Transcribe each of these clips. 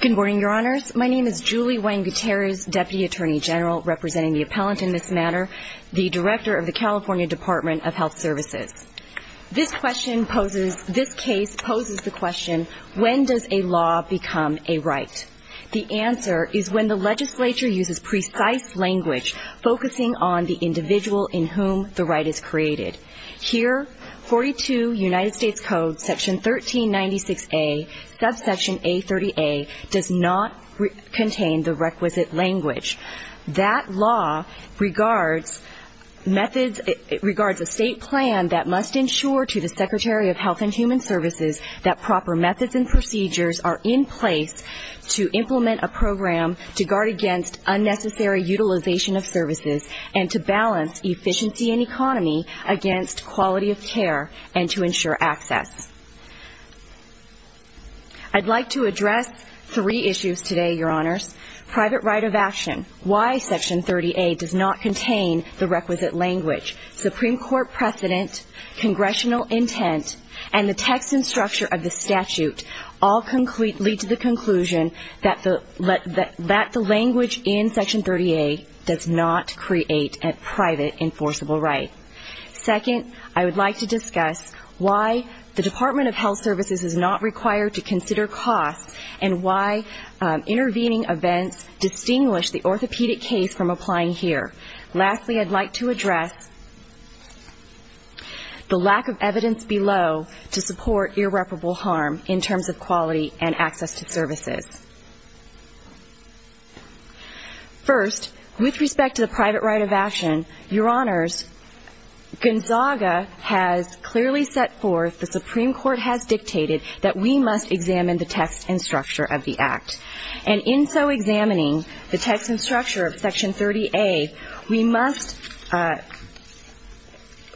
Good morning, Your Honors. My name is Julie Wang Gutierrez, Deputy Attorney General, representing the appellant in this matter, the Director of the California Department of Health Services. This question poses, this case poses the question, when does a law become a right? The answer is when the legislature uses precise language focusing on the individual in whom the right is created. Here, 42 United States Code Section 1396A, subsection A30A, does not contain the requisite language. That law regards methods, it regards a state plan that must ensure to the Secretary of Health and Human Services that proper methods and procedures are in place to implement a program to guard against unnecessary utilization of services and to against quality of care and to ensure access. I'd like to address three issues today, Your Honors. Private right of action. Why Section 30A does not contain the requisite language. Supreme Court precedent, congressional intent, and the text and structure of the statute all lead to the conclusion that the language in Section 30A does not create a private enforceable right. Second, I would like to discuss why the Department of Health Services is not required to consider costs and why intervening events distinguish the orthopedic case from applying here. Lastly, I'd like to address the lack of evidence below to support irreparable harm in terms of quality and access to services. First, with respect to the private right of action, Gonzaga has clearly set forth, the Supreme Court has dictated, that we must examine the text and structure of the Act. And in so examining the text and structure of Section 30A, we must,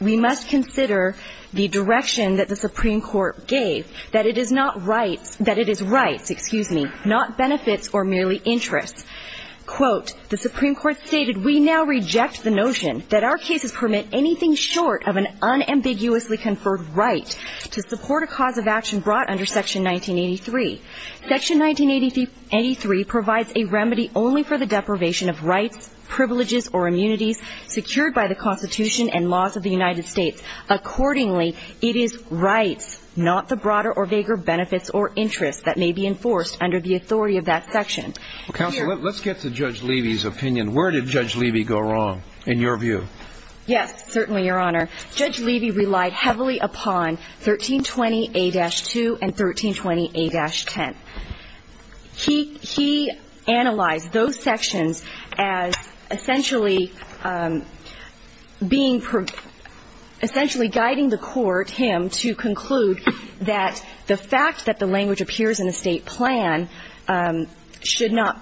we must consider the direction that the Supreme Court gave, that it is not rights, that it is rights, excuse me, not benefits or merely interests. Quote, the Supreme Court stated, we now reject the notion that our cases permit anything short of an unambiguously conferred right to support a cause of action brought under Section 1983. Section 1983 provides a remedy only for the deprivation of rights, privileges, or immunities secured by the Constitution and laws of the United States. Accordingly, it is rights, not the broader or vaguer benefits or interests that may be enforced under the authority of that section. Counselor, let's get to Judge Levy's opinion. Where did Judge Levy go wrong, in your view? Yes, certainly, Your Honor. Judge Levy relied heavily upon 1320A-2 and 1320A-10. He, he analyzed those sections as essentially being, essentially guiding the court, him, to conclude that the fact that the language appears in the State plan should not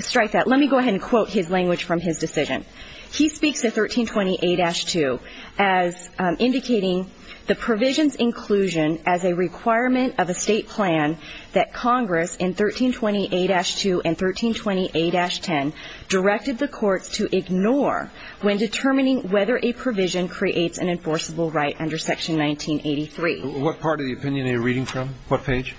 strike that. Let me go ahead and quote his language from his decision. He speaks of 1320A-2 as indicating the provision's inclusion as a requirement of a State plan that Congress in 1320A-2 and 1320A-10 directed the courts to ignore when determining whether a provision creates an enforceable right under Section 1983. What part of the opinion are you reading from? What page?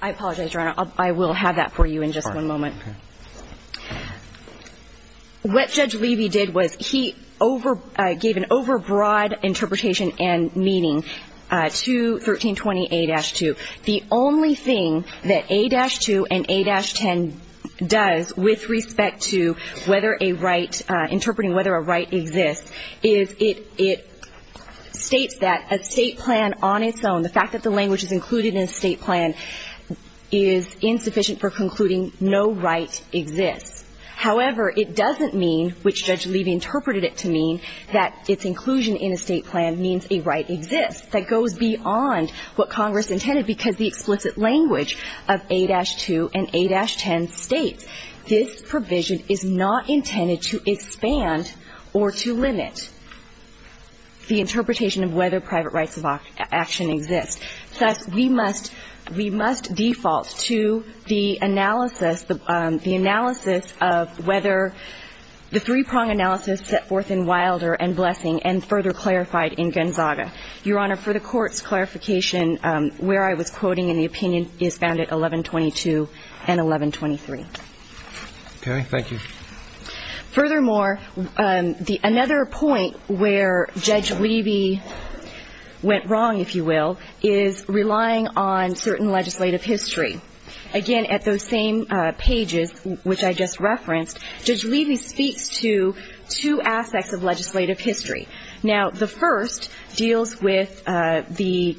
I apologize, Your Honor. I will have that for you in just one moment. Okay. What Judge Levy did was he over, gave an over-broad interpretation and meaning to 1320A-2. The only thing that A-2 and A-10 does with respect to whether a right, interpreting whether a right exists, is it, it states that a State plan on its own, the fact that the language is included in a State plan, is insufficient for concluding no right exists. However, it doesn't mean, which Judge Levy interpreted it to mean, that its inclusion in a State plan means a right exists. That goes beyond what Congress intended because the explicit language of A-2 and A-10 states this provision is not intended to expand or to limit the interpretation of whether private rights of action exist. Thus, we must, we must default to the analysis of whether the three-prong analysis set forth in Wilder and Blessing and further clarified in Gonzaga. Your Honor, for the Court's clarification, where I was quoting in the opinion is found at 1122 and 1123. Okay. Thank you. Furthermore, another point where Judge Levy went wrong, if you will, is relying on certain legislative history. Again, at those same pages, which I just referenced, Judge Levy speaks to two aspects of legislative history. Now, the first deals with the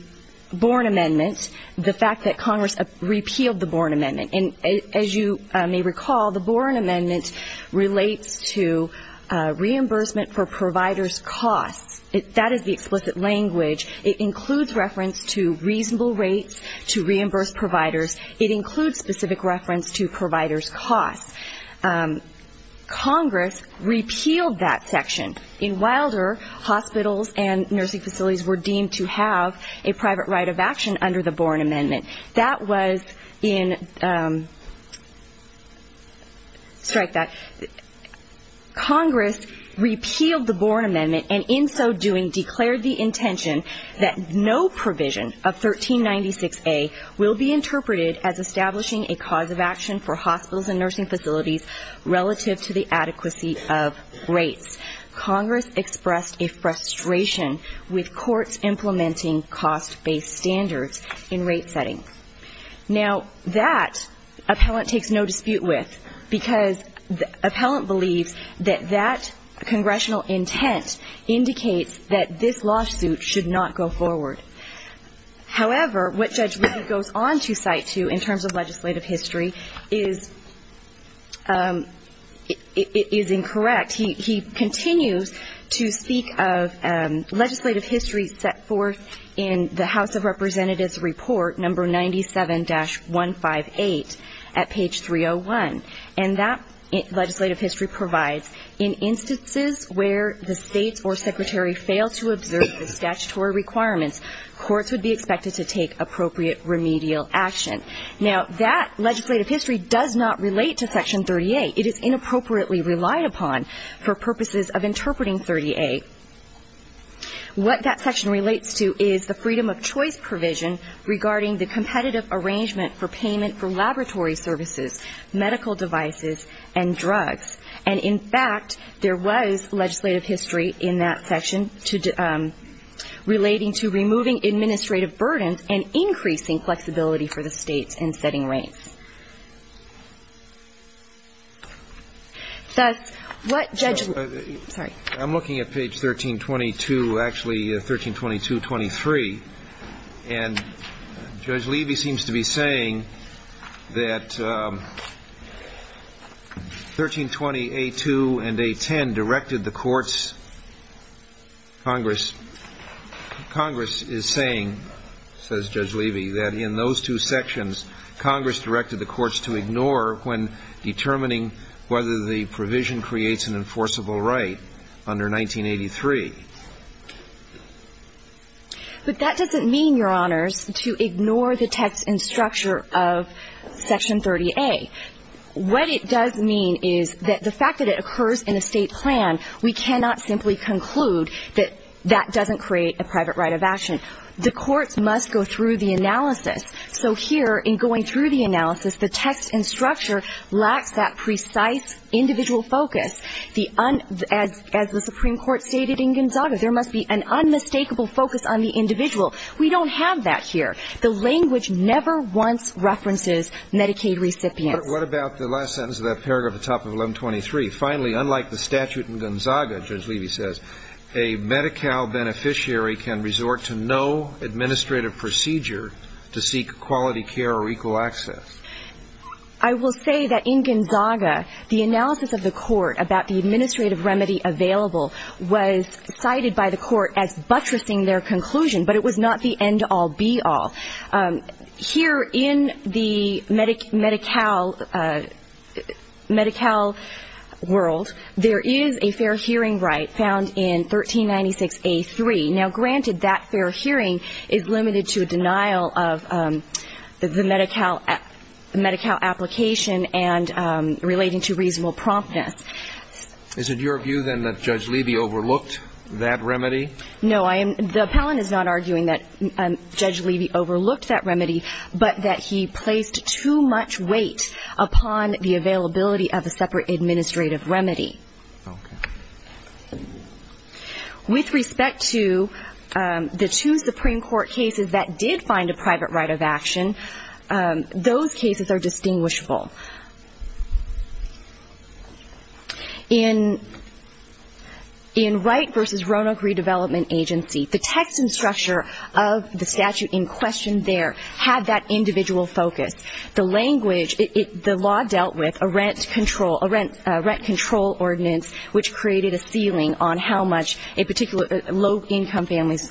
Boren Amendment, the fact that Congress repealed the Boren Amendment. And as you may recall, the Boren Amendment relates to reimbursement for providers' costs. That is the explicit language. It includes reference to reasonable rates to reimburse providers. It includes specific reference to providers' costs. Congress repealed that section. In Wilder, hospitals and nursing facilities were deemed to have a private right of action under the Boren Amendment. That was in, strike that, Congress repealed the Boren Amendment and in so doing declared the provision of 1396A will be interpreted as establishing a cause of action for hospitals and nursing facilities relative to the adequacy of rates. Congress expressed a frustration with courts implementing cost-based standards in rate settings. Now that, appellant takes no dispute with because the appellant believes that that congressional intent indicates that this lawsuit should not go forward. However, what Judge Levy goes on to cite to in terms of legislative history is incorrect. He continues to speak of legislative history set forth in the House of Representatives Report No. 97-158 at page 301. And that legislative history provides, in instances where the states or secretary fail to observe the statutory requirements, courts would be expected to take appropriate remedial action. Now that legislative history does not relate to Section 30A. It is inappropriately relied upon for purposes of interpreting 30A. What that section relates to is the freedom of choice provision regarding the competitive arrangement for payment for laboratory services, medical devices and drugs. And, in fact, there was legislative history in that section to, relating to removing administrative burdens and increasing flexibility for the states in setting rates. Thus, what Judge Levy, I'm looking at page 1322, actually 1322-23, and Judge Levy seems to be saying that 1320A2 and A10 directed the courts, Congress, Congress is saying, says Judge Levy, that in those two sections, Congress directed the courts to ignore when determining whether the provision creates an enforceable right under 1983. But that doesn't mean, Your Honors, to ignore the text and structure of Section 30A. What it does mean is that the fact that it occurs in a state plan, we cannot simply conclude that that doesn't create a private right of action. The courts must go through the analysis. So here, in going through the analysis, the text and structure lacks that precise individual focus. As the Supreme Court stated in Gonzaga, there must be an unmistakable focus on the individual. We don't have that here. The language never once references Medicaid recipients. What about the last sentence of that paragraph at the top of 1123? Finally, unlike the statute in Gonzaga, Judge Levy says, a Medi-Cal beneficiary can resort to no administrative procedure to seek quality care or equal access. I will say that in Gonzaga, the analysis of the court about the administrative remedy available was cited by the court as buttressing their conclusion, but it was not the end-all-be-all. Here in the Medi-Cal world, there is a fair hearing right found in 1396A.3. Now, granted that fair hearing is limited to a denial of the Medi-Cal application and relating to reasonable promptness. Is it your view, then, that Judge Levy overlooked that remedy? No. The appellant is not arguing that Judge Levy overlooked that remedy, but that he placed too much weight upon the availability of a separate administrative remedy. Okay. With respect to the two Supreme Court cases that did find a private right of action, those cases are distinguishable. In Wright v. Roanoke Redevelopment Agency, the text and structure of the statute in question there had that individual focus. The language, the law dealt with a rent control ordinance, which created a ceiling on how much low-income families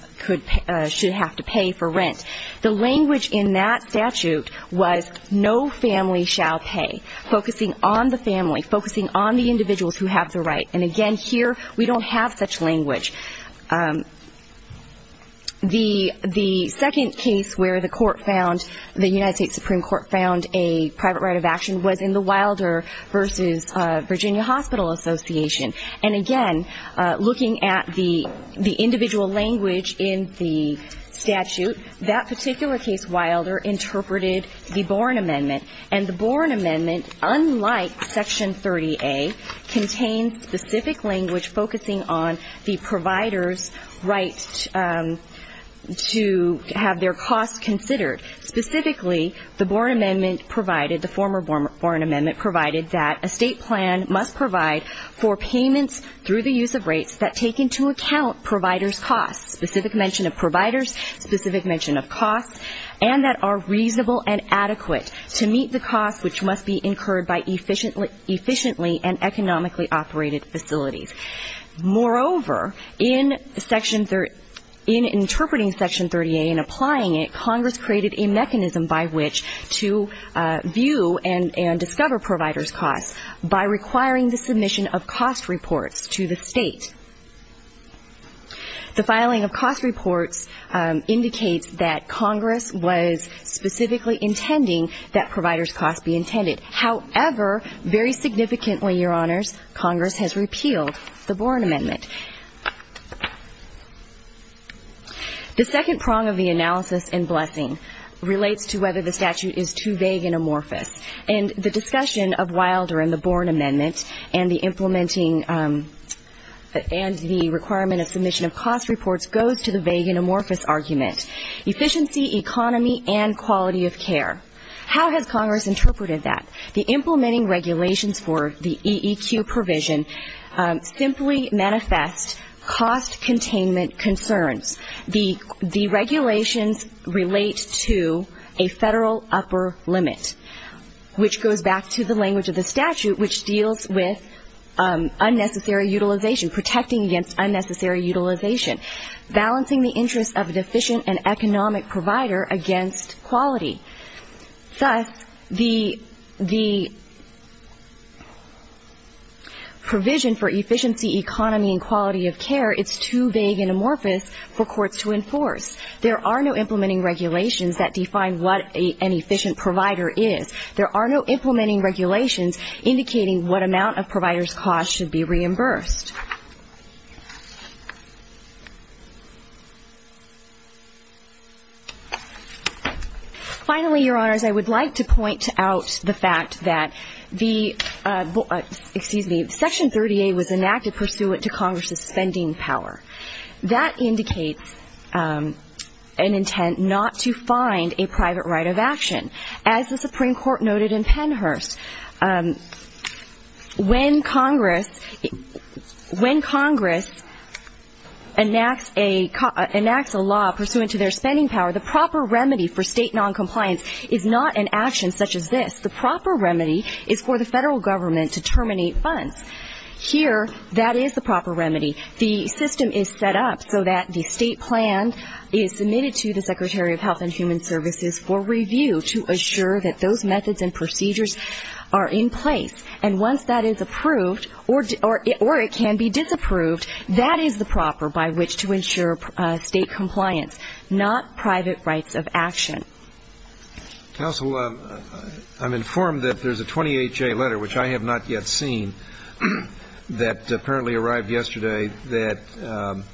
should have to pay for rent. The language in that statute was no family shall pay, focusing on the family, focusing on the individuals who have the right. And again, here, we don't have such language. The second case where the court found, the United States Supreme Court found a private right of action was in the Wilder v. Virginia Hospital Association. And again, looking at the individual language in the statute, that particular case, Wilder, interpreted the Borne Amendment. And the Borne Amendment, unlike Section 30A, contains specific language focusing on the provider's right to have their costs considered. Specifically, the former Borne Amendment provided that a state plan must provide for payments through the use of rates that take into account provider's costs, specific mention of providers, specific mention of costs, and that are reasonable and adequate to meet the costs which must be incurred by efficiently and economically operated facilities. Moreover, in interpreting Section 30A and applying it, Congress created a mechanism by which to view and discover provider's costs by requiring the submission of cost reports to the state. The filing of cost reports indicates that Congress was specifically intending that provider's costs be intended. However, very significantly, Your Honors, Congress has repealed the Borne Amendment. The second prong of the analysis in Blessing relates to whether the statute is too vague and amorphous. And the discussion of Wilder and the Borne Amendment and the implementing and the requirement of submission of cost reports goes to the vague and amorphous argument, efficiency, economy, and quality of care. How has Congress interpreted that? The implementing regulations for the EEQ provision simply manifest cost containment concerns. The regulations relate to a federal upper limit, which goes back to the language of the statute, which deals with unnecessary utilization, protecting against unnecessary utilization, balancing the interests of a deficient and economic provider against quality. Thus, the EEQ provision for efficiency, economy, and quality of care is too vague and amorphous for courts to enforce. There are no implementing regulations that define what an efficient provider is. There are no implementing regulations indicating what amount of provider's cost should be reimbursed. Finally, Your Honors, I would like to point out the fact that the Section 30A was enacted pursuant to Congress's spending power. That indicates an intent not to find a private right of action. As the Supreme Court noted in Pennhurst, when Congress, when Congress enacts a law pursuant to their spending power, the proper remedy for state noncompliance is not an action such as this. The proper remedy is for the federal government to terminate funds. Here, that is the proper remedy. The system is set up so that the state plan is submitted to the Secretary of Health and Human Services for review to assure that those methods and procedures are in place. And once that is approved, or it can be disapproved, that is the proper by which to ensure state compliance, not private rights of action. Counsel, I'm informed that there's a 28-J letter, which I have not yet seen, that apparently arrived yesterday that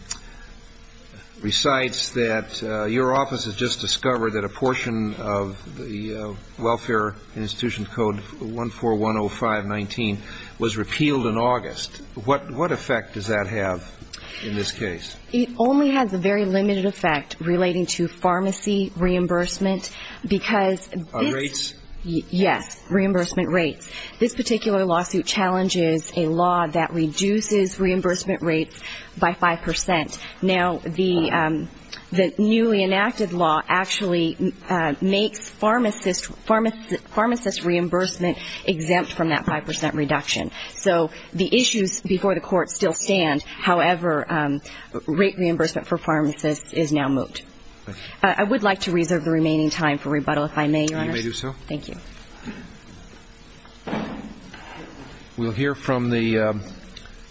recites that your office has just discovered that a portion of the Welfare Institution Code 14105-19 was repealed in August. What effect does that have in this case? It only has a very limited effect relating to pharmacy reimbursement, because this Rates? Yes. Reimbursement rates. This particular lawsuit challenges a law that reduces reimbursement rates by 5 percent. Now, the newly enacted law actually makes pharmacists, pharmacists reimbursement exempt from that 5 percent reduction. So the issues before the court still stand. However, rate reimbursement for pharmacists is now moot. I would like to reserve the remaining time for rebuttal, if I may, Your Honor. You may do so. Thank you. We'll hear from the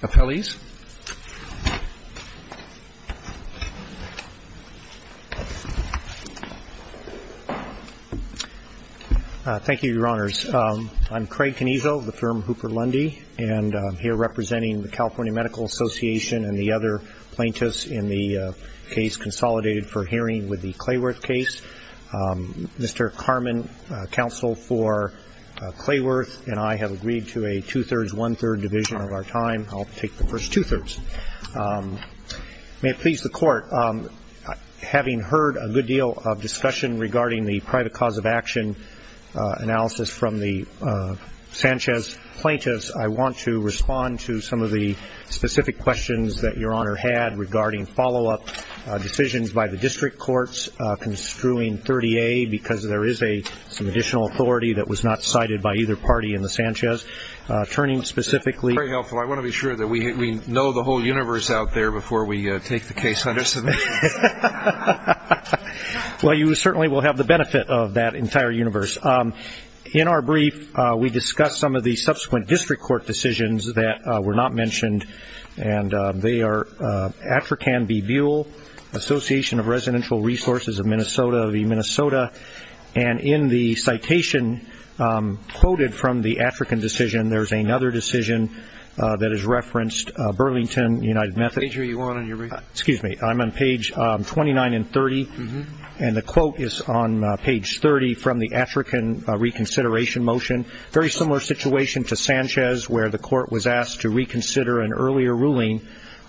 appellees. Thank you, Your Honors. I'm Craig Canizo of the firm Hooper Lundy, and I'm here representing the California Medical Association and the other plaintiffs in the case consolidated for hearing with the Clayworth case. Mr. Carmen, counsel for Clayworth, and I have agreed to a two-thirds, one-third division of our time. I'll take the first two-thirds. May it please the Court, having heard a good deal of discussion regarding the private cause of action analysis from the Sanchez plaintiffs, I want to respond to some of the specific questions that Your Honor had regarding follow-up decisions by the district courts construing 30A, because there is some additional authority that was not cited by either party in the Sanchez. Turning specifically to the Sanchez plaintiffs, I want to be sure that we know the whole universe out there before we take the case, understand? Well, you certainly will have the benefit of that entire universe. In our brief, we discussed some of the subsequent district court decisions that were not mentioned, and they are Attrican v. Buell, Association of Residential Resources of Minnesota v. Minnesota, and in the citation quoted from the Attrican decision, there's another decision that is referenced, Burlington United Methodist. Page are you on in your brief? Excuse me. I'm on page 29 and 30, and the quote is on page 30 from the Attrican reconsideration motion, very similar situation to Sanchez, where the court was asked to reconsider an earlier ruling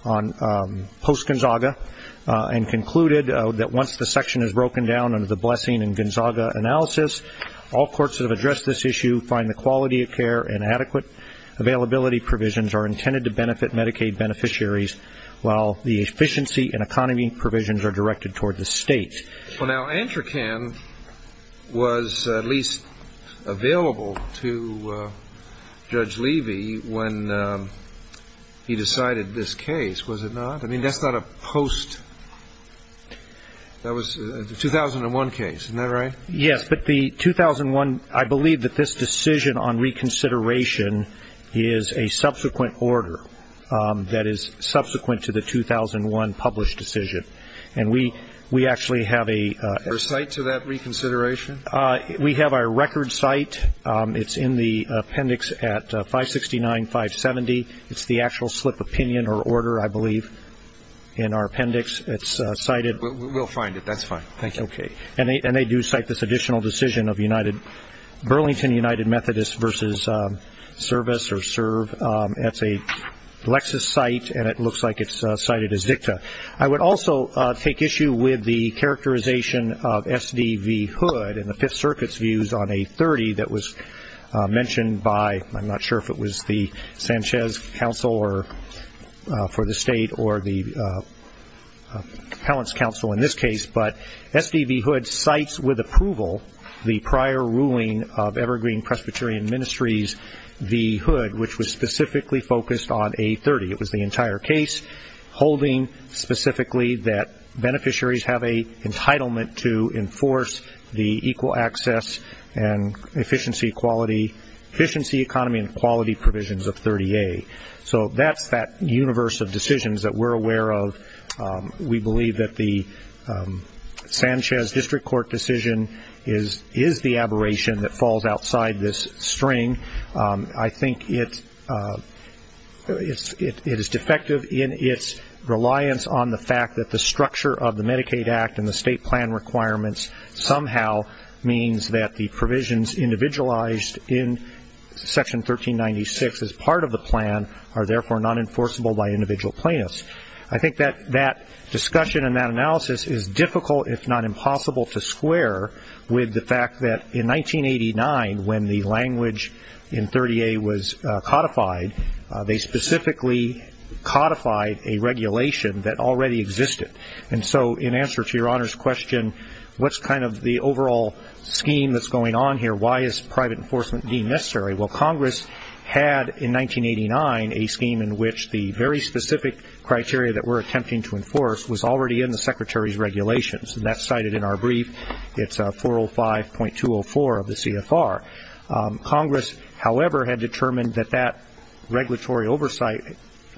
on post-Gonzaga, and concluded that once the section is broken down under the Blessing and Gonzaga analysis, all courts that have addressed this issue find the quality of care and adequate availability provisions are intended to benefit Medicaid beneficiaries while the efficiency and economy provisions are directed toward the state. Well, now, Attrican was at least available to Judge Levy when he decided this case, was it not? I mean, that's not a post... that was a 2001 case, isn't that right? Yes, but the 2001, I believe that this decision on reconsideration is a subsequent order that is subsequent to the 2001 published decision, and we actually have a... A site to that reconsideration? We have our record site, it's in the appendix at 569-570, it's the actual slip opinion or order I believe in our appendix, it's cited... We'll find it, that's fine, thank you. And they do cite this additional decision of Burlington United Methodist versus service or serve, that's a Lexis site and it looks like it's cited as dicta. I would also take issue with the characterization of SDV Hood and the Fifth Circuit's views on a 30 that was mentioned by, I'm not sure if it was the Sanchez Council for the state or the Appellant's Council in this case, but SDV Hood cites with approval the prior ruling of Evergreen Presbyterian Ministries, V Hood, which was specifically focused on A30, it was the entire case, holding specifically that beneficiaries have a entitlement to enforce the equal access and efficiency, quality, efficiency, economy and quality provisions of 30A. So that's that universe of decisions that we're aware of, we believe that the Sanchez District Court decision is the aberration that falls outside this string. I think it is defective in its reliance on the fact that the structure of the Medicaid Act and the state plan requirements somehow means that the provisions individualized in section 1396 as part of the plan are therefore not enforceable by individual plaintiffs. I think that discussion and that analysis is difficult if not impossible to square with the fact that in 1989 when the language in 30A was codified, they specifically codified a regulation that already existed. And so in answer to your Honor's question, what's kind of the overall scheme that's going on here, why is private enforcement deemed necessary, well Congress had in 1989 a scheme in which the very specific criteria that we're attempting to enforce was already in the Secretary's regulations and that's cited in our brief, it's 405.204 of the CFR. Congress however had determined that that regulatory oversight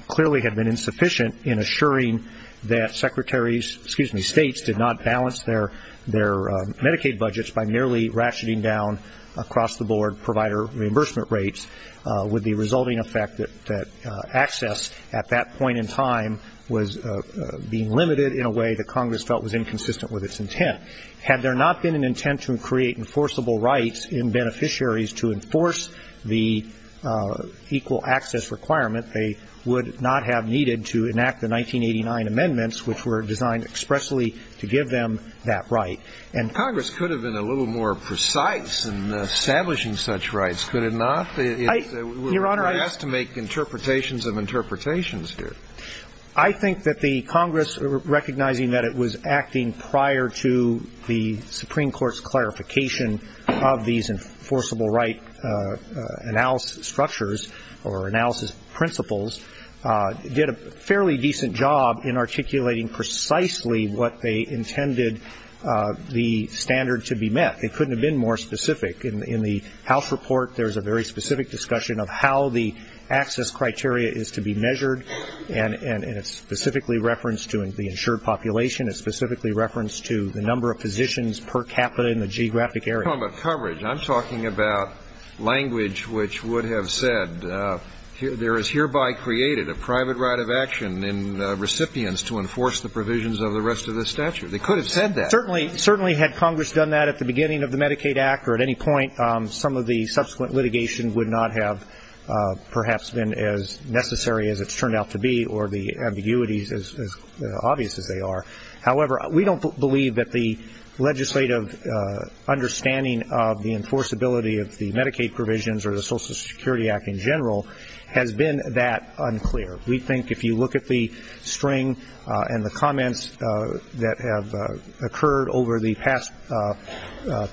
clearly had been insufficient in assuring that Secretary's, excuse me, states did not balance their Medicaid budgets by merely ratcheting down across the board provider reimbursement rates with the resulting effect that access at that point in time was being limited in a way that Congress felt was inconsistent with its intent. Had there not been an intent to create enforceable rights in beneficiaries to enforce the equal access requirement, they would not have needed to enact the 1989 amendments which were designed expressly to give them that right. And Congress could have been a little more precise in establishing such rights, could it not? Your Honor, I think that the Congress recognizing that it was acting prior to the Supreme Court's clarification of these enforceable right analysis structures or analysis principles did a fairly decent job in articulating precisely what they intended the standard to be met, it couldn't I think there's a very specific discussion of how the access criteria is to be measured and it's specifically referenced to the insured population, it's specifically referenced to the number of physicians per capita in the geographic area. I'm not talking about coverage, I'm talking about language which would have said there is hereby created a private right of action in recipients to enforce the provisions of the rest of the statute. They could have said that. Certainly had Congress done that at the beginning of the Medicaid Act or at any point some of the subsequent litigation would not have perhaps been as necessary as it's turned out to be or the ambiguities as obvious as they are. However, we don't believe that the legislative understanding of the enforceability of the Medicaid provisions or the Social Security Act in general has been that unclear. We think if you look at the string and the comments that have occurred over the past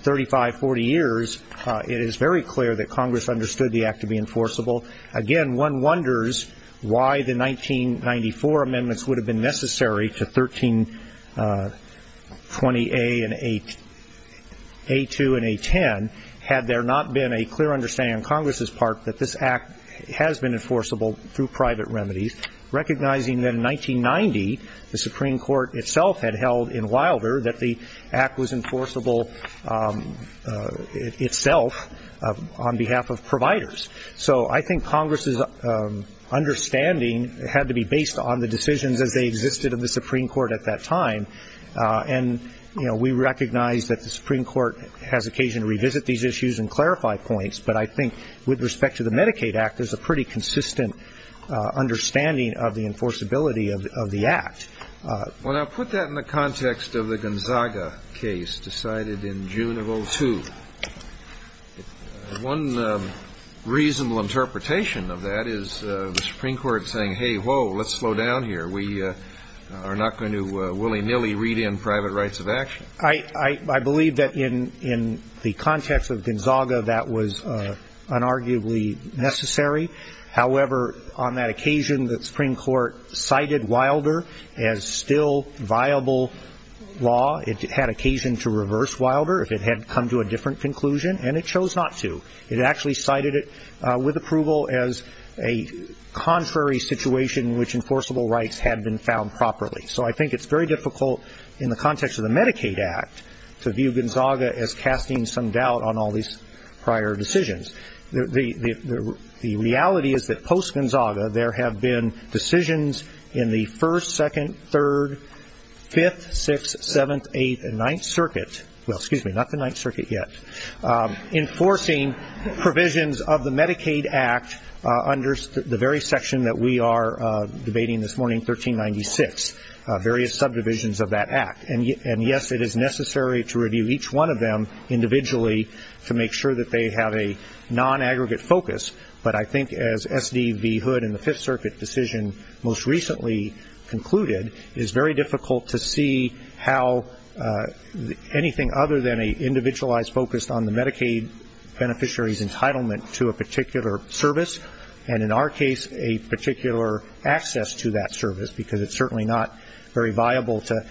35, 40 years, it is very clear that Congress understood the act to be enforceable. Again, one wonders why the 1994 amendments would have been necessary to 1320A and A2 and A10 had there not been a clear understanding on Congress's part that this act has been enforceable through private remedies, recognizing that in 1990 the Supreme Court itself had held in Wilder that the act was enforceable itself on behalf of providers. So I think Congress's understanding had to be based on the decisions as they existed in the Supreme Court at that time. And we recognize that the Supreme Court has occasion to revisit these issues and clarify points, but I think with respect to the Medicaid Act there's a pretty consistent understanding of the enforceability of the act. Well, now put that in the context of the Gonzaga case decided in June of 2002. One reasonable interpretation of that is the Supreme Court saying, hey, whoa, let's slow down here. We are not going to willy-nilly read in private rights of action. I believe that in the context of Gonzaga that was unarguably necessary. However, on that occasion that the Supreme Court cited Wilder as still viable law, it had occasion to reverse Wilder if it had come to a different conclusion, and it chose not to. It actually cited it with approval as a contrary situation in which enforceable rights had been found properly. So I think it's very difficult in the context of the Medicaid Act to view Gonzaga as casting some doubt on all these prior decisions. The reality is that post-Gonzaga there have been decisions in the 1st, 2nd, 3rd, 5th, 6th, 7th, 8th, and 9th Circuit, well, excuse me, not the 9th Circuit yet, enforcing provisions of the Medicaid Act under the very section that we are debating this morning, 1396, various subdivisions of that act. And, yes, it is necessary to review each one of them individually to make sure that they have a non-aggregate focus. But I think as S.D.V. Hood in the 5th Circuit decision most recently concluded, it is very difficult to see how anything other than an individualized focus on the Medicaid beneficiary's entitlement to a particular service, and in our case a particular access to that service, because it's certainly not very viable to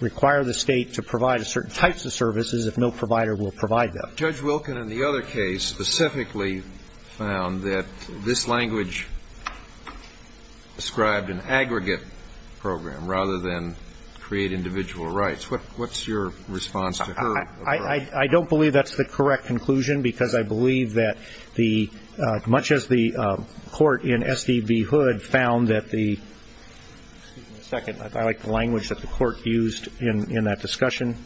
require the state to provide certain types of services if no provider will provide them. Judge Wilkin in the other case specifically found that this language described an aggregate program rather than create individual rights. What's your response to her approach? I don't believe that's the correct conclusion because I believe that much as the court in Excuse me a second. I like the language that the court used in that discussion.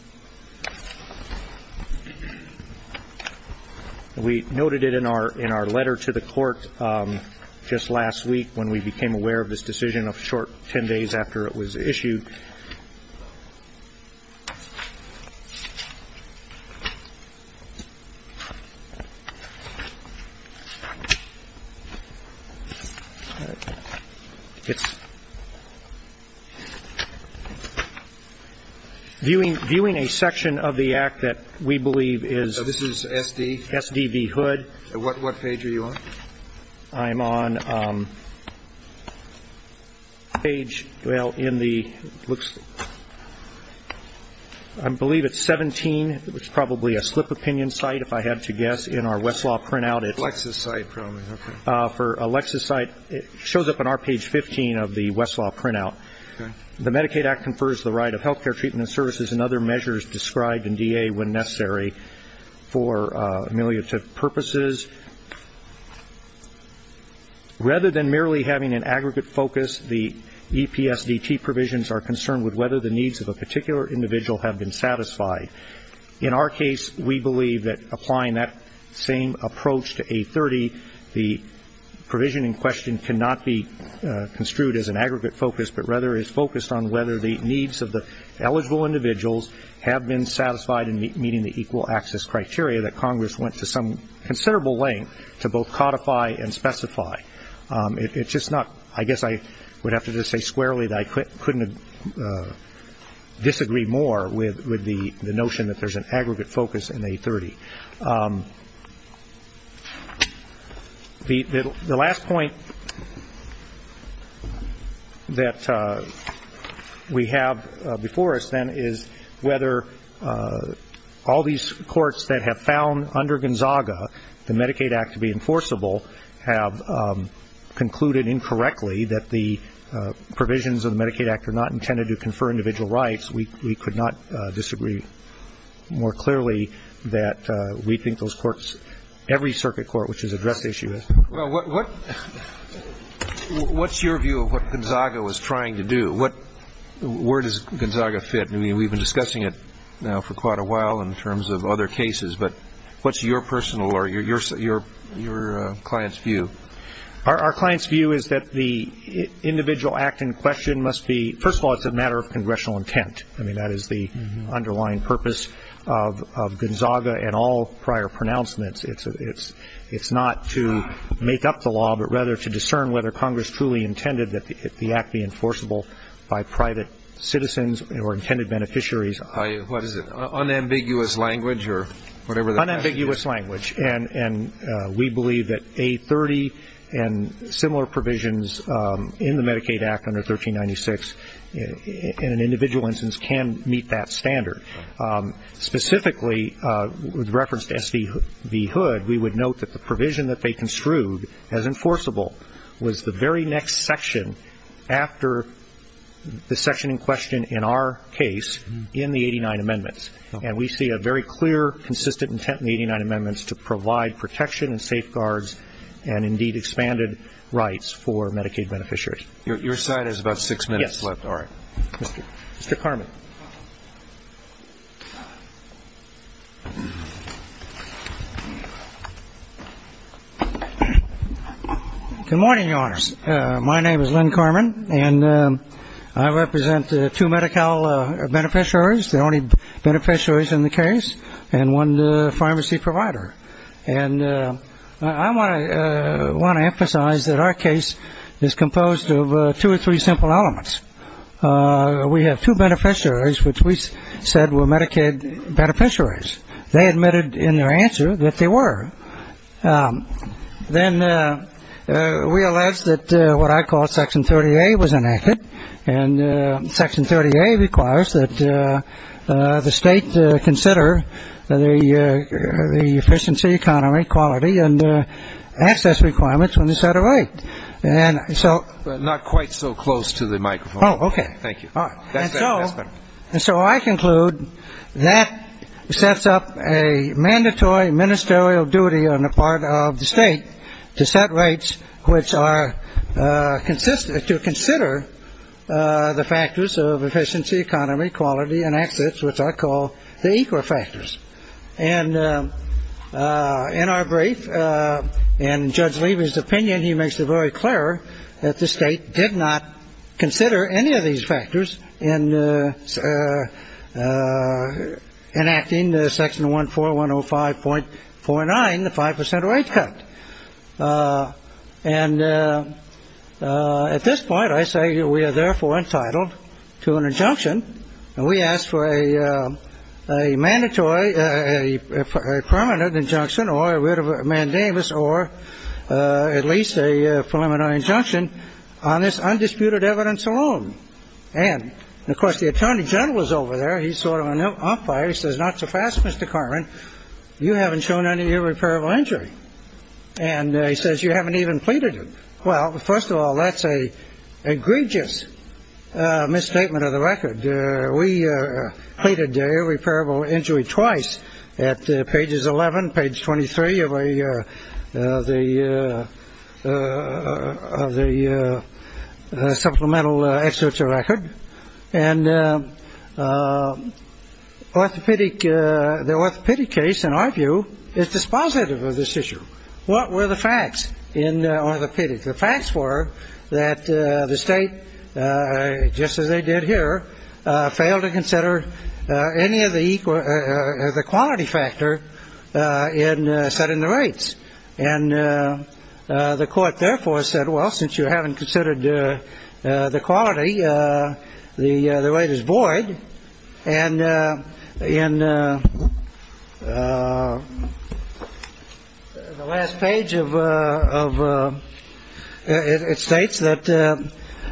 We noted it in our letter to the court just last week when we became aware of this decision a short 10 days after it was issued. Viewing a section of the act that we believe is So this is S.D.? S.D.V. Hood. What page are you on? I believe it's 17. It's probably a slip opinion site if I had to guess. In our Westlaw printout it's Lexis site probably. Okay. For a Lexis site, it shows up on our page 15 of the Westlaw printout. Okay. The Medicaid Act confers the right of health care treatment services and other measures described in D.A. when necessary for ameliorative purposes. Rather than merely having an aggregate focus, the EPSDT provisions are concerned with whether the needs of a particular individual have been satisfied. In our case, we believe that applying that same approach to A30, the provision in question cannot be construed as an aggregate focus but rather is focused on whether the needs of the eligible individuals have been satisfied in meeting the equal access criteria that Congress went to some considerable length to both codify and specify. I guess I would have to just say squarely that I couldn't disagree more with the notion that there's an aggregate focus in A30. The last point that we have before us then is whether all these courts that have found under Gonzaga the Medicaid Act to be enforceable have concluded incorrectly that the provisions of the Medicaid Act are not intended to confer individual rights. We could not disagree more clearly that we think those courts, every circuit court which has addressed the issue has. Well, what's your view of what Gonzaga was trying to do? Where does Gonzaga fit? I mean, we've been discussing it now for quite a while in terms of other cases, but what's your personal or your client's view? Our client's view is that the individual act in question must be, first of all, it's a matter of congressional intent. I mean, that is the underlying purpose of Gonzaga and all prior pronouncements. It's not to make up the law but rather to discern whether Congress truly intended that the act be enforceable by private citizens or intended beneficiaries. Unambiguous language or whatever the passage is? Unambiguous language. And we believe that A30 and similar provisions in the Medicaid Act under 1396 in an individual instance can meet that standard. Specifically, with reference to S.D.V. Hood, we would note that the provision that they construed as enforceable was the very next section after the section in question in our case in the 89 amendments. And we see a very clear, consistent intent in the 89 amendments to provide protection and safeguards and, indeed, expanded rights for Medicaid beneficiaries. Your side has about six minutes left. Yes. All right. Mr. Carman. Good morning, Your Honors. My name is Len Carman, and I represent two Medi-Cal beneficiaries. The only beneficiaries in the case and one pharmacy provider. And I want to emphasize that our case is composed of two or three simple elements. We have two beneficiaries which we said were Medicaid beneficiaries. They admitted in their answer that they were. Then we alleged that what I call Section 30A was enacted, and Section 30A requires that the state consider the efficiency, economy, quality, and access requirements when they set a rate. Not quite so close to the microphone. Oh, okay. Thank you. And so I conclude that sets up a mandatory ministerial duty on the part of the state to set rates which are consistent, to consider the factors of efficiency, economy, quality, and access, which I call the equal factors. And in our brief, in Judge Levy's opinion, he makes it very clear that the state did not consider any of these factors in enacting Section 14105.49, the 5% rate cut. And at this point, I say we are therefore entitled to an injunction. And we ask for a mandatory, a permanent injunction, or a writ of mandamus, or at least a preliminary injunction on this undisputed evidence alone. And, of course, the attorney general is over there. He's sort of an umpire. He says, not so fast, Mr. Cartman. You haven't shown any irreparable injury. And he says you haven't even pleaded it. Well, first of all, that's a egregious misstatement of the record. We pleaded irreparable injury twice at pages 11, page 23 of the supplemental excerpts of record. And orthopedic, the orthopedic case, in our view, is dispositive of this issue. What were the facts in orthopedics? The facts were that the state, just as they did here, failed to consider any of the quality factor set in the rates. And the court therefore said, well, since you haven't considered the quality, the rate is void. And in the last page, it states that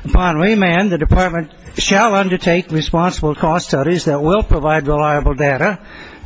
upon remand, the department shall undertake responsible cost studies that will provide reliable data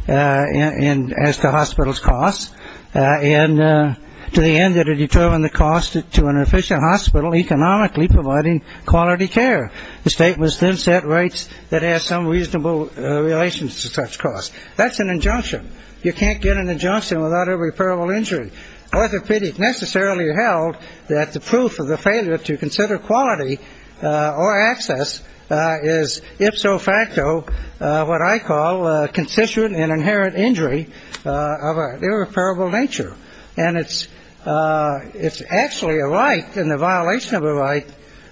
as to hospitals' costs, and to the end, that it determine the cost to an efficient hospital economically providing quality care. The state must then set rates that have some reasonable relations to such costs. That's an injunction. You can't get an injunction without irreparable injury. Orthopedic necessarily held that the proof of the failure to consider quality or access is, if so facto, what I call a constituent and inherent injury of an irreparable nature. And it's actually a right and the violation of a right,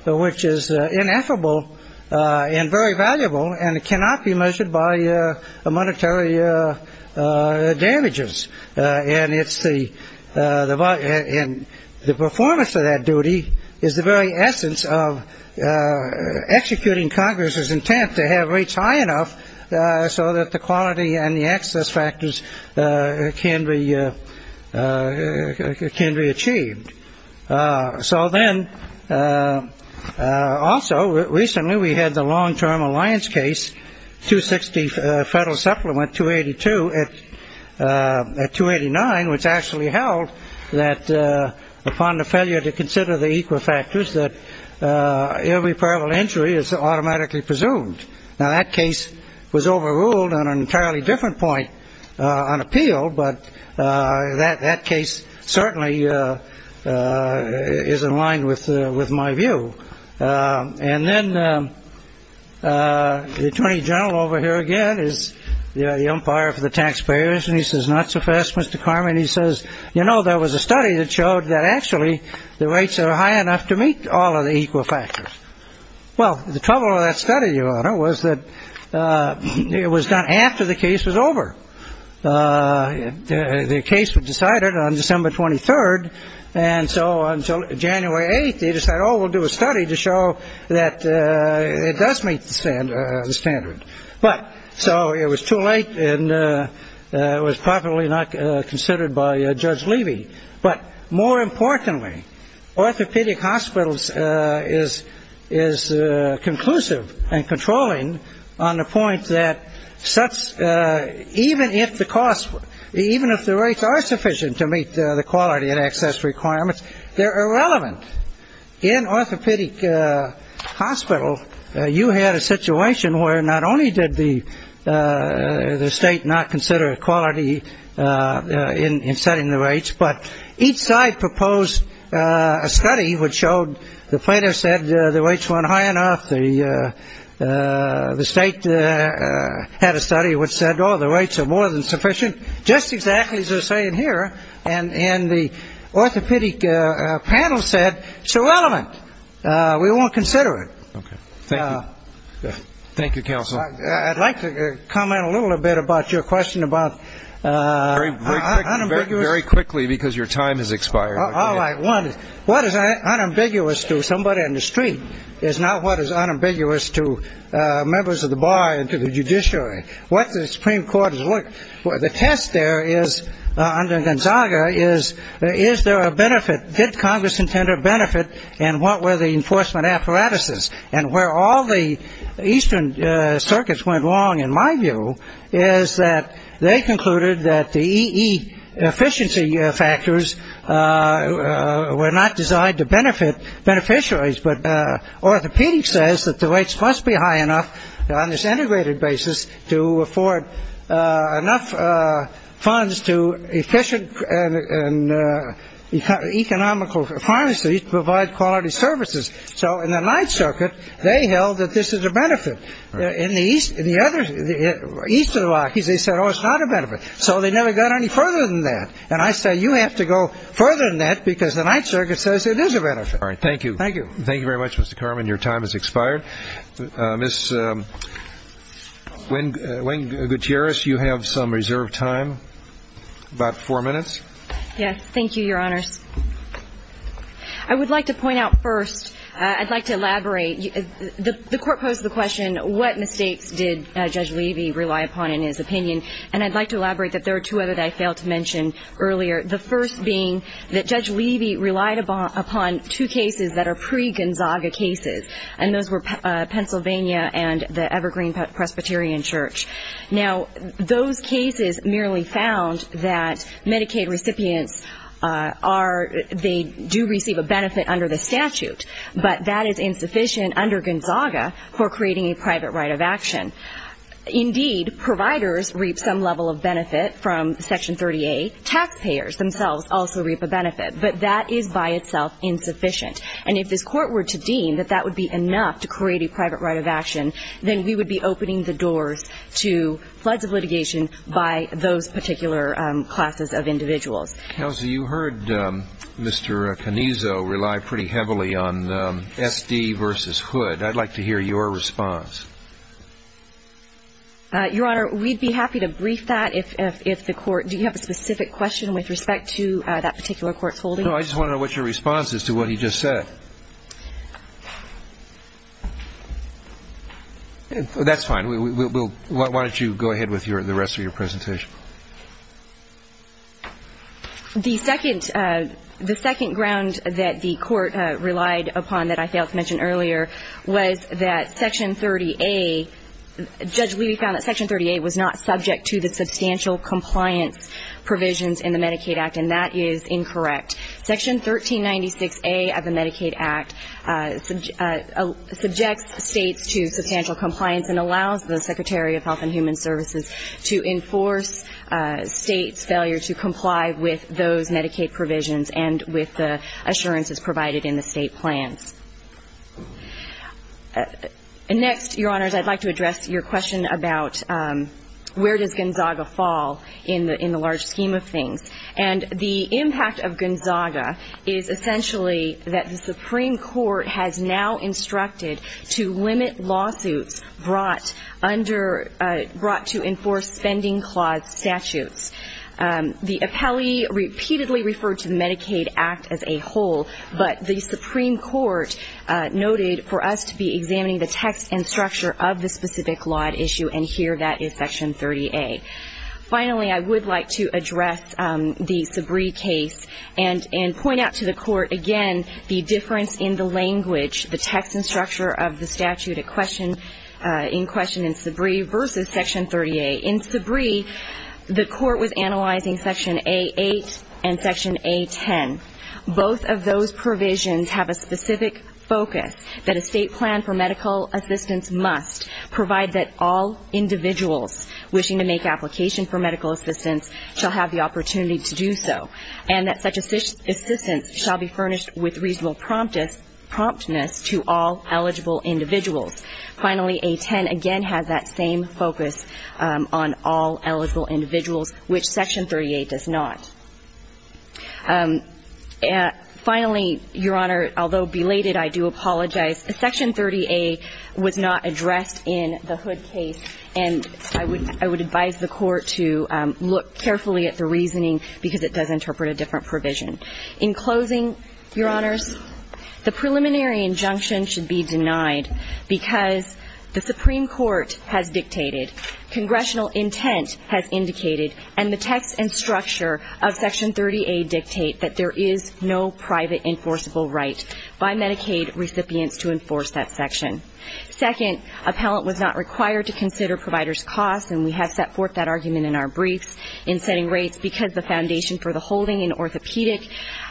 which is ineffable and very valuable, and it cannot be measured by monetary damages. And the performance of that duty is the very essence of executing Congress's intent to have rates high enough so that the quality and the access factors can be can be achieved. So then also recently we had the long term alliance case to 60 federal supplement 282 at 289, which actually held that upon the failure to consider the equal factors that irreparable injury is automatically presumed. Now, that case was overruled on an entirely different point on appeal, but that that case certainly is in line with with my view. And then the attorney general over here again is the umpire for the taxpayers. And he says, not so fast, Mr. Carmen. He says, you know, there was a study that showed that actually the rates are high enough to meet all of the equal factors. Well, the trouble of that study, your honor, was that it was done after the case was over. The case was decided on December 23rd. And so until January 8th, they decided, oh, we'll do a study to show that it does make the standard. But so it was too late and it was probably not considered by Judge Levy. But more importantly, orthopedic hospitals is is conclusive and controlling on the point that such even if the cost, even if the rates are sufficient to meet the quality and access requirements, they're irrelevant. In orthopedic hospitals, you had a situation where not only did the state not consider equality in setting the rates, but each side proposed a study which showed the plaintiff said the rates weren't high enough. The state had a study which said, oh, the rates are more than sufficient. Just exactly as they're saying here. And in the orthopedic panel said, it's irrelevant. We won't consider it. Thank you. Thank you, counsel. I'd like to comment a little bit about your question about. Very quickly, because your time has expired. All right. One, what is unambiguous to somebody in the street is not what is unambiguous to members of the bar and to the judiciary. What the Supreme Court has looked for the test there is under Gonzaga is, is there a benefit? Did Congress intend to benefit? And what were the enforcement apparatuses? And where all the eastern circuits went wrong, in my view, is that they concluded that the E.E. efficiency factors were not designed to benefit beneficiaries. But orthopedic says that the rates must be high enough on this integrated basis to afford enough funds to efficient and economical pharmacies to provide quality services. So in the Ninth Circuit, they held that this is a benefit. In the east, in the other, east of the Rockies, they said, oh, it's not a benefit. So they never got any further than that. And I say you have to go further than that because the Ninth Circuit says it is a benefit. All right. Thank you. Thank you. Thank you very much, Mr. Carman. Your time has expired. Ms. Gutierrez, you have some reserved time, about four minutes. Yes. Thank you, Your Honors. I would like to point out first, I'd like to elaborate. The Court posed the question, what mistakes did Judge Levy rely upon in his opinion? And I'd like to elaborate that there are two other that I failed to mention earlier, the first being that Judge Levy relied upon two cases that are pre-Gonzaga cases, and those were Pennsylvania and the Evergreen Presbyterian Church. Now, those cases merely found that Medicaid recipients are, they do receive a benefit under the statute, but that is insufficient under Gonzaga for creating a private right of action. Indeed, providers reap some level of benefit from Section 38. Taxpayers themselves also reap a benefit, but that is by itself insufficient. And if this Court were to deem that that would be enough to create a private right of action, then we would be opening the doors to floods of litigation by those particular classes of individuals. Kelsey, you heard Mr. Canizo rely pretty heavily on SD versus Hood. I'd like to hear your response. Your Honor, we'd be happy to brief that if the Court, do you have a specific question with respect to that particular Court's holding? No, I just want to know what your response is to what he just said. That's fine. Why don't you go ahead with the rest of your presentation. The second ground that the Court relied upon that I failed to mention earlier was that Section 30A, Judge Levy found that Section 30A was not subject to the substantial compliance provisions in the Medicaid Act, and that is incorrect. Section 1396A of the Medicaid Act subjects States to substantial compliance and allows the Secretary of Health and Human Services to enforce States' failure to comply with those Medicaid provisions and with the assurances provided in the State plans. Next, Your Honors, I'd like to address your question about where does Gonzaga fall in the large scheme of things. And the impact of Gonzaga is essentially that the Supreme Court has now instructed to limit lawsuits brought to enforce spending clause statutes. The appellee repeatedly referred to the Medicaid Act as a whole, but the Supreme Court noted for us to be examining the text and structure of the specific law issue, and here that is Section 30A. Finally, I would like to address the Sabree case and point out to the Court, again, the difference in the language, the text and structure of the statute in question in Sabree versus Section 30A. In Sabree, the Court was analyzing Section A8 and Section A10. Both of those provisions have a specific focus that a State plan for medical assistance must provide that all individuals wishing to make application for medical assistance shall have the opportunity to do so and that such assistance shall be furnished with reasonable promptness to all eligible individuals. Finally, A10 again has that same focus on all eligible individuals, which Section 30A does not. Finally, Your Honor, although belated, I do apologize. Section 30A was not addressed in the Hood case, and I would advise the Court to look carefully at the reasoning because it does interpret a different provision. In closing, Your Honors, the preliminary injunction should be denied because the Supreme Court has dictated, congressional intent has indicated, and the text and structure of Section 30A dictate that there is no private enforceable right by Medicaid recipients to enforce that section. Second, appellant was not required to consider provider's costs, and we have set forth that argument in our briefs, in setting rates because the foundation for the holding in orthopedic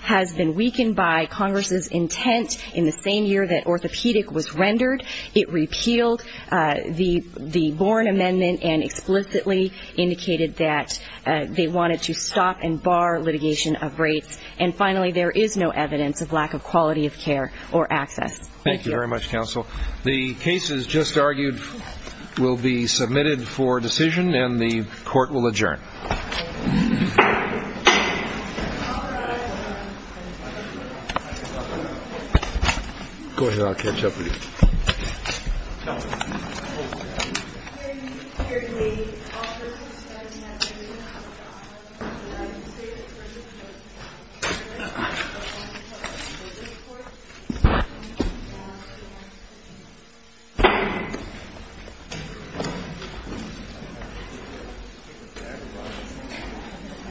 has been weakened by Congress's intent in the same year that orthopedic was rendered. It repealed the Borne Amendment and explicitly indicated that they wanted to stop and bar litigation of rates. And finally, there is no evidence of lack of quality of care or access. Thank you very much, counsel. The cases just argued will be submitted for decision, and the Court will adjourn. Go ahead, I'll catch up with you. Thank you.